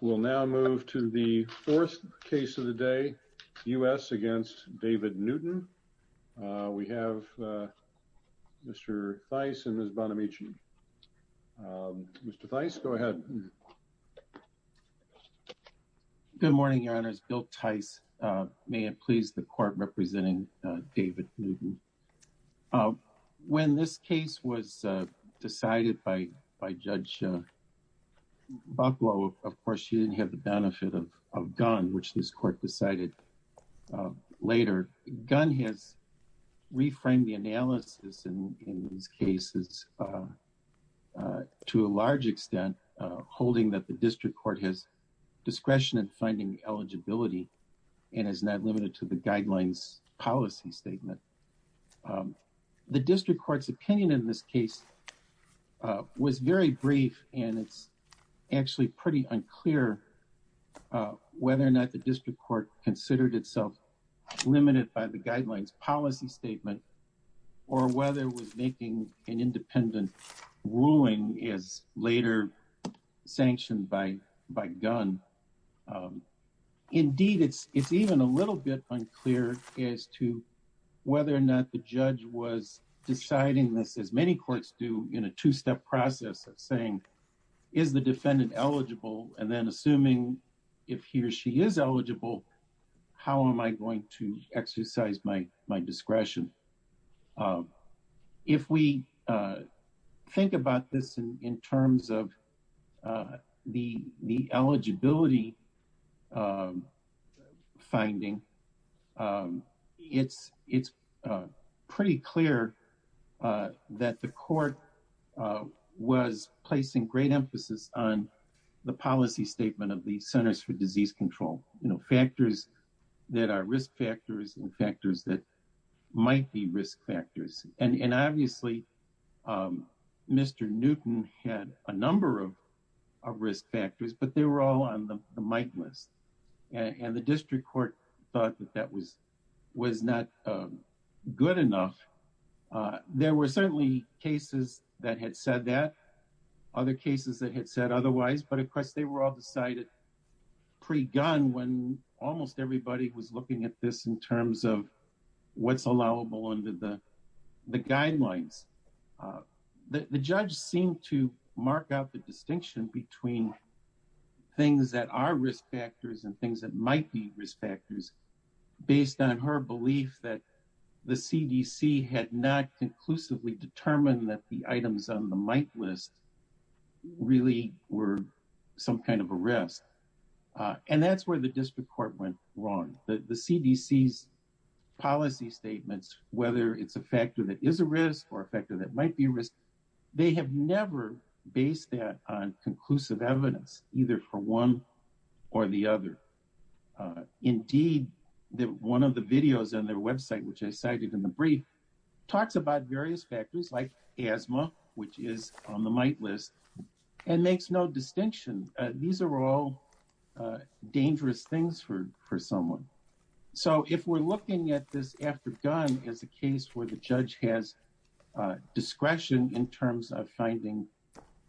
We will now move to the fourth case of the day, U.S. v. David Newton. We have Mr. Theis and Ms. Bonamici. Mr. Theis, go ahead. Good morning, Your Honors. Bill Theis. May it please the Court, representing David Newton. When this case was decided by Judge Bucklow, of course, she didn't have the benefit of Gunn, which this Court decided later. Gunn has reframed the analysis in these cases to a large extent, holding that the District Court has discretion in finding eligibility and is not limited to the Guidelines Policy Statement. The District Court's opinion in this case was very brief and it's actually pretty unclear whether or not the District Court considered itself limited by the Guidelines Policy Statement or whether making an independent ruling is later sanctioned by Gunn. Indeed, it's even a little bit unclear as to whether or not the Judge was deciding this, as many courts do, in a two-step process of saying, is the defendant eligible? And then assuming if he or she is eligible, how am I going to exercise my discretion? If we think about this in terms of the eligibility finding, it's pretty clear that the Court was placing great emphasis on the policy statement of the Centers for Disease Control. Factors that are risk factors and factors that might be risk factors. Obviously, Mr. Newton had a number of risk factors, but they were all on the might list. And the District Court thought that that was not good enough. There were certainly cases that had said that, other cases that had said otherwise, but of course they were all decided pre-Gunn when almost everybody was looking at this in terms of what's allowable under the guidelines. The Judge seemed to mark out the distinction between things that are risk factors and things that might be risk factors based on her belief that the CDC had not conclusively determined that the items on the might list really were some kind of a risk. And that's where the District Court went wrong. The CDC's policy statements, whether it's a factor that is a risk or a factor that might be risk, they have never based that on conclusive evidence, either for one or the other. Indeed, one of the videos on their website, which I cited in the brief, talks about various factors like asthma, which is on the might list, and makes no distinction. These are all dangerous things for someone. So if we're looking at this after Gunn as a case where the judge has discretion in terms of finding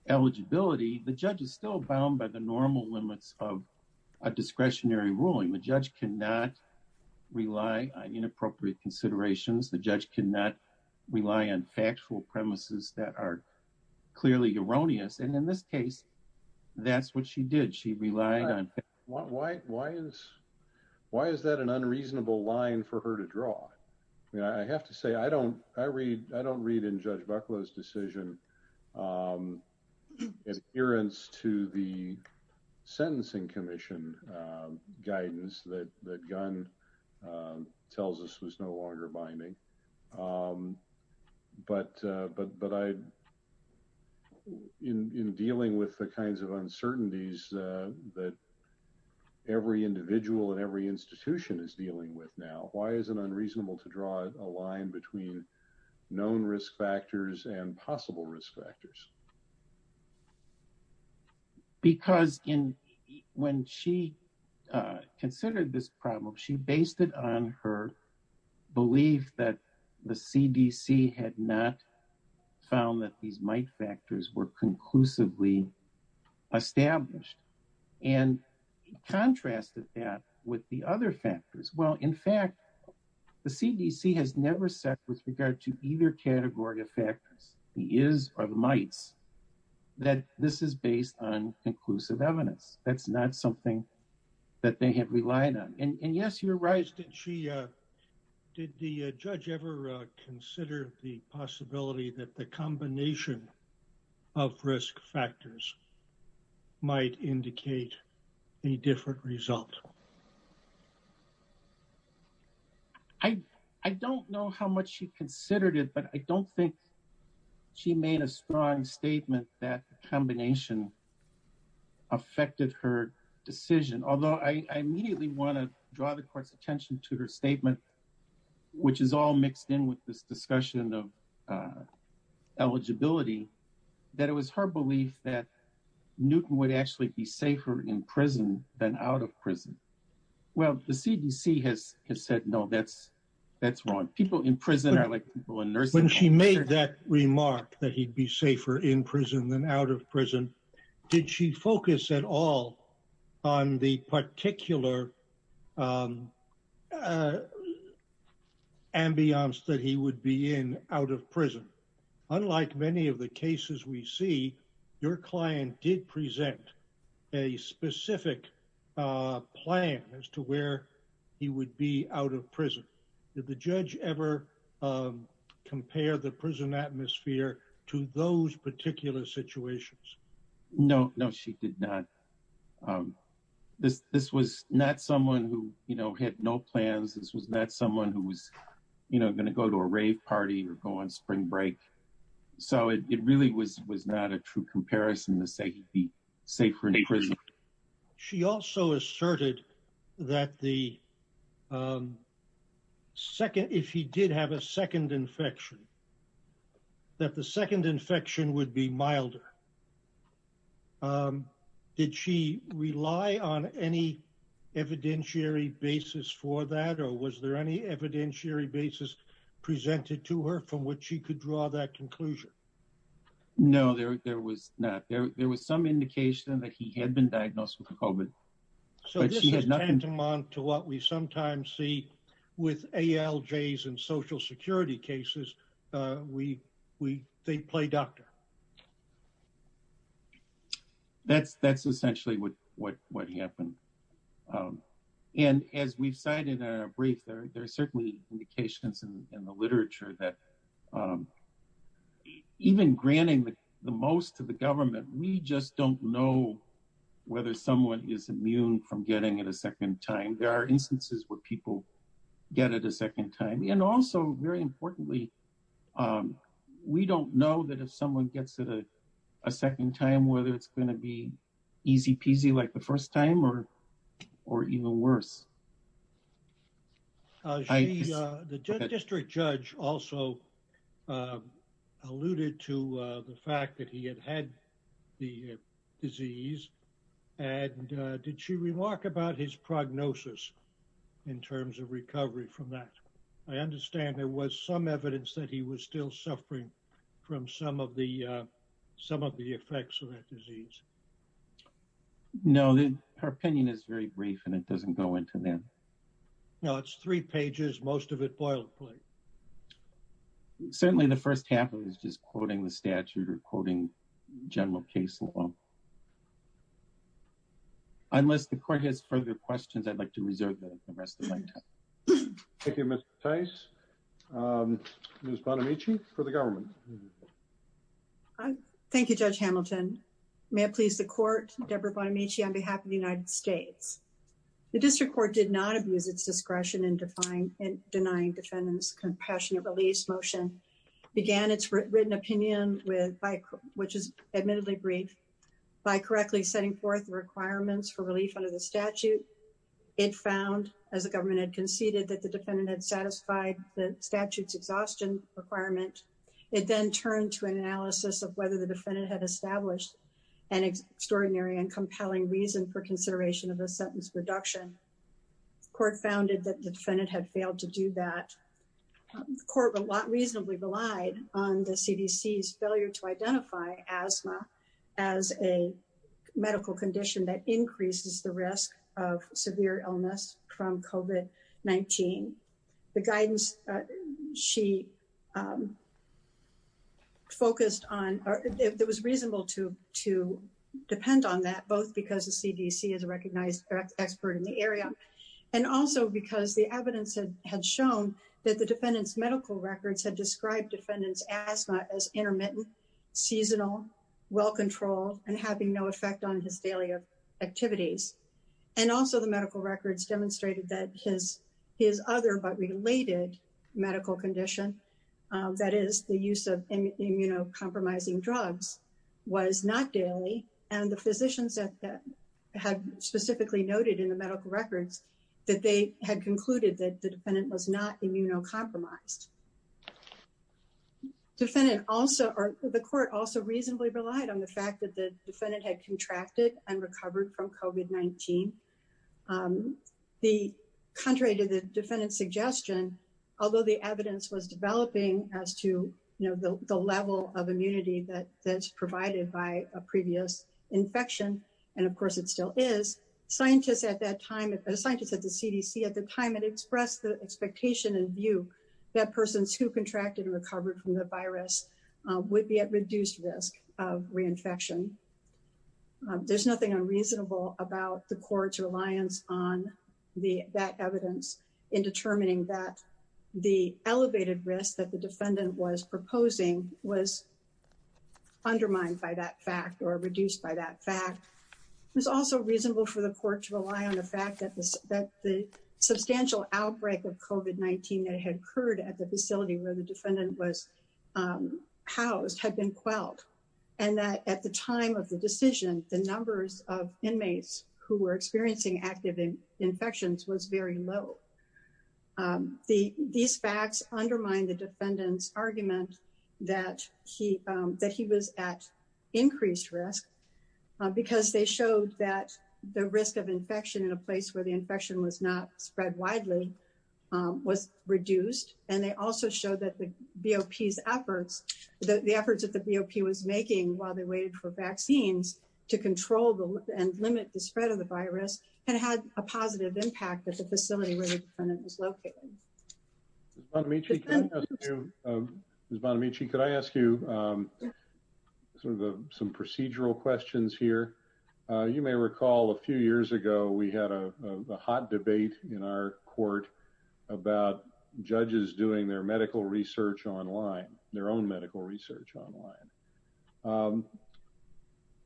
eligibility, the judge is still bound by the normal limits of a discretionary ruling. The judge cannot rely on inappropriate considerations. The judge cannot rely on factual premises that are clearly erroneous. And in this case, that's what she did. Why is that an unreasonable line for her to draw? I have to say, I don't read in Judge Bucklow's decision adherence to the Sentencing Commission guidance that Gunn tells us was no longer binding. But in dealing with the kinds of uncertainties that every individual and every institution is dealing with now, why is it unreasonable to draw a line between known risk factors and possible risk factors? Because when she considered this problem, she based it on her belief that the CDC had not found that these might factors were conclusively established. And contrasted that with the other factors. Well, in fact, the CDC has never said with regard to either category of factors, the is or the mights, that this is based on conclusive evidence. That's not something that they have relied on. And yes, you're right. Did the judge ever consider the possibility that the combination of risk factors might indicate a different result? I don't know how much she considered it, but I don't think she made a strong statement that combination affected her decision, although I immediately want to draw the court's attention to her statement, which is all mixed in with this discussion of eligibility, that it was her belief that Newton would actually be safer in prison than out of prison. Well, the CDC has said no, that's wrong. People in prison are like people in nursing homes. When she made that remark that he'd be safer in prison than out of prison, did she focus at all on the particular ambience that he would be in out of prison? Unlike many of the cases we see, your client did present a specific plan as to where he would be out of prison. Did the judge ever compare the prison atmosphere to those particular situations? No, no, she did not. This was not someone who had no plans. This was not someone who was going to go to a rave party or go on spring break. So it really was not a true comparison to say he'd be safer in prison. She also asserted that if he did have a second infection, that the second infection would be milder. Did she rely on any evidentiary basis for that, or was there any evidentiary basis presented to her from which she could draw that conclusion? No, there was not. There was some indication that he had been diagnosed with COVID. So this is tantamount to what we sometimes see with ALJs and social security cases. They play doctor. That's essentially what happened. And as we've cited in our brief, there are certainly indications in the literature that even granting the most to the government, we just don't know whether someone is immune from getting it a second time. There are instances where people get it a second time. And also, very importantly, we don't know that if someone gets it a second time, whether it's going to be easy peasy like the first time or even worse. The district judge also alluded to the fact that he had had the disease. And did she remark about his prognosis in terms of recovery from that? I understand there was some evidence that he was still suffering from some of the effects of that disease. No, her opinion is very brief and it doesn't go into that. No, it's three pages. Most of it boil play. Certainly the first half of it is just quoting the statute or quoting general case law. Unless the court has further questions, I'd like to reserve the rest of my time. Thank you, Mr. Tice. Ms. Bonamici, for the government. Thank you, Judge Hamilton. May it please the court, Deborah Bonamici on behalf of the United States. The district court did not abuse its discretion in denying defendants compassionate release motion. The court began its written opinion, which is admittedly brief, by correctly setting forth requirements for relief under the statute. It found, as the government had conceded, that the defendant had satisfied the statute's exhaustion requirement. It then turned to an analysis of whether the defendant had established an extraordinary and compelling reason for consideration of the sentence reduction. The court found that the defendant had failed to do that. The court reasonably relied on the CDC's failure to identify asthma as a medical condition that increases the risk of severe illness from COVID-19. The guidance she focused on, it was reasonable to depend on that, both because the CDC is a recognized expert in the area, and also because the evidence had shown that the defendant's medical records had described defendant's asthma as intermittent, seasonal, well-controlled, and having no effect on his daily activities. And also the medical records demonstrated that his other but related medical condition, that is, the use of immunocompromising drugs, was not daily, and the physicians had specifically noted in the medical records that they had concluded that the defendant was not immunocompromised. The court also reasonably relied on the fact that the defendant had contracted and recovered from COVID-19. Contrary to the defendant's suggestion, although the evidence was developing as to the level of immunity that's provided by a previous infection, and of course it still is, the scientists at the CDC at the time had expressed the expectation and view that persons who contracted and recovered from the virus would be at reduced risk of reinfection. There's nothing unreasonable about the court's reliance on that evidence in determining that the elevated risk that the defendant was proposing was undermined by that fact or reduced by that fact. It was also reasonable for the court to rely on the fact that the substantial outbreak of COVID-19 that had occurred at the facility where the defendant was housed had been quelled, and that at the time of the decision, the numbers of inmates who were experiencing active infections was very low. These facts undermine the defendant's argument that he was at increased risk because they showed that the risk of infection in a place where the infection was not spread widely was reduced, and they also showed that the BOP's efforts, the efforts that the BOP was making while they waited for vaccines to control and limit the spread of the virus had a positive impact at the facility where the defendant was located. Ms. Bonamici, can I ask you some procedural questions here? You may recall a few years ago, we had a hot debate in our court about judges doing their own medical research online.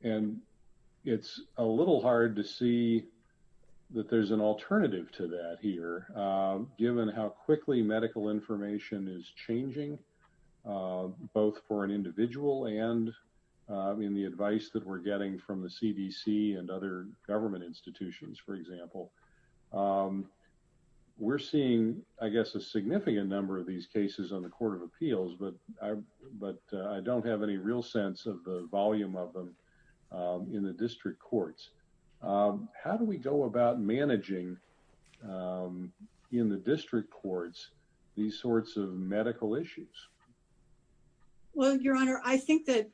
And it's a little hard to see that there's an alternative to that here, given how quickly medical information is changing, both for an individual and in the advice that we're getting from the CDC and other government institutions, for example. We're seeing, I guess, a significant number of these cases on the Court of Appeals, but I don't have any real sense of the volume of them in the district courts. How do we go about managing in the district courts these sorts of medical issues? Well, Your Honor, I think that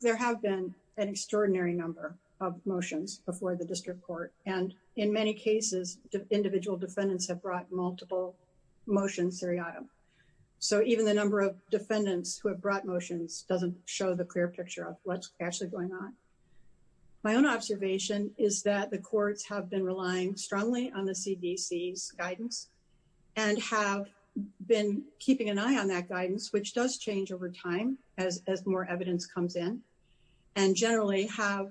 there have been an extraordinary number of motions before the district court, and in many cases, individual defendants have brought multiple motions. So even the number of defendants who have brought motions doesn't show the clear picture of what's actually going on. My own observation is that the courts have been relying strongly on the CDC's guidance and have been keeping an eye on that guidance, which does change over time as more evidence comes in, and generally have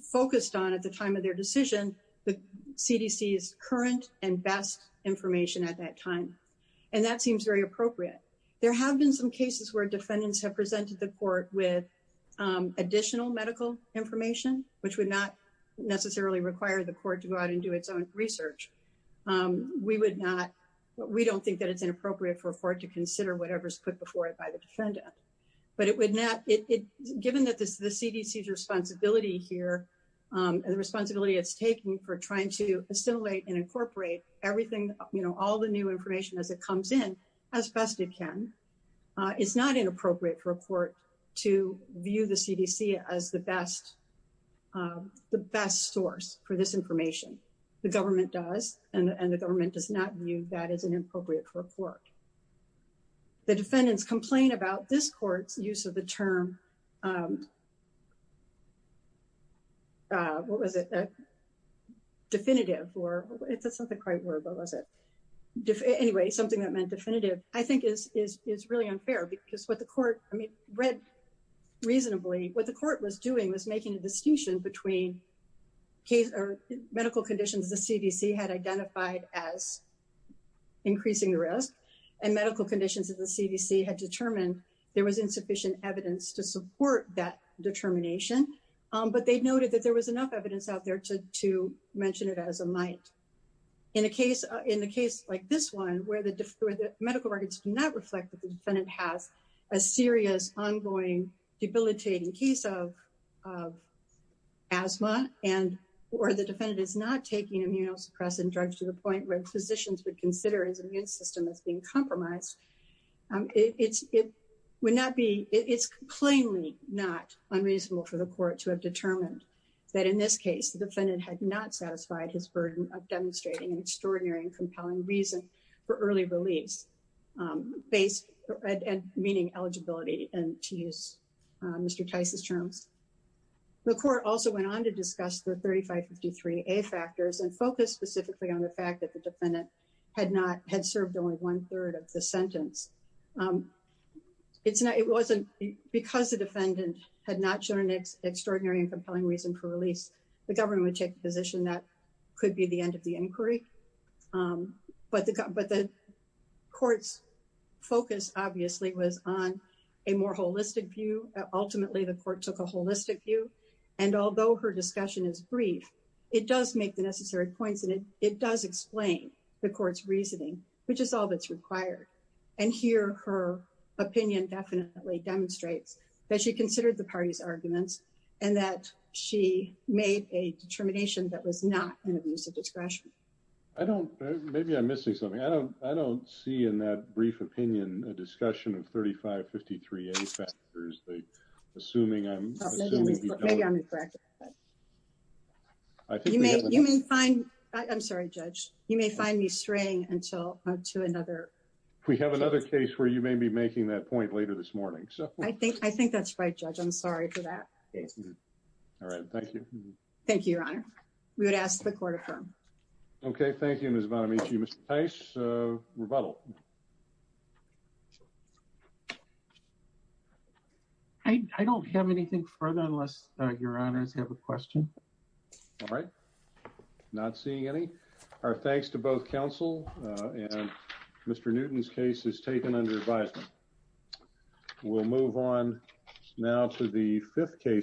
focused on, at the time of their decision, the CDC's current and best information at that time. And that seems very appropriate. There have been some cases where defendants have presented the court with additional medical information, which would not necessarily require the court to go out and do its own research. We don't think that it's inappropriate for a court to consider whatever's put before it by the defendant. But given the CDC's responsibility here and the responsibility it's taking for trying to assimilate and incorporate all the new information as it comes in as best it can, it's not inappropriate for a court to view the CDC as the best source for this information. The government does, and the government does not view that as an inappropriate for a court. The defendants' complaint about this court's use of the term, what was it, definitive, or it's something quite verbal, is it? Anyway, something that meant definitive, I think is really unfair because what the court, I mean, read reasonably, what the court was doing was making a distinction between medical conditions the CDC had identified as increasing the risk and medical conditions that the CDC had determined there was insufficient evidence to support that determination. But they noted that there was enough evidence out there to mention it as a might. In a case like this one where the medical records do not reflect that the defendant has a serious ongoing debilitating case of asthma or the defendant is not taking immunosuppressant drugs to the point where physicians would consider his immune system as being compromised, it would not be, it's plainly not unreasonable for the court to have determined that in this case, the defendant had not satisfied his burden of demonstrating an extraordinary and compelling reason for early release, meaning eligibility to use Mr. Tice's terms. The court also went on to discuss the 3553A factors and focused specifically on the fact that the defendant had not, had served only one third of the sentence. It's not, it wasn't, because the defendant had not shown an extraordinary and compelling reason for release, the government would take the position that could be the end of the inquiry. But the court's focus obviously was on a more holistic view. Ultimately, the court took a holistic view. And although her discussion is brief, it does make the necessary points, and it does explain the court's reasoning, which is all that's required. And here, her opinion definitely demonstrates that she considered the party's arguments and that she made a determination that was not an abuse of discretion. I don't, maybe I'm missing something. I don't, I don't see in that brief opinion, a discussion of 3553A factors. Assuming I'm, assuming. Maybe I'm incorrect. You may, you may find, I'm sorry, Judge, you may find me straying until, to another. We have another case where you may be making that point later this morning. I think, I think that's right, Judge. I'm sorry for that. All right. Thank you. Thank you, Your Honor. Okay. Thank you, Ms. Bonamici. Mr. Tice, rebuttal. I don't have anything further unless Your Honors have a question. All right. Not seeing any. Our thanks to both counsel and Mr. Newton's case is taken under advisement. We'll move on now to the fifth case.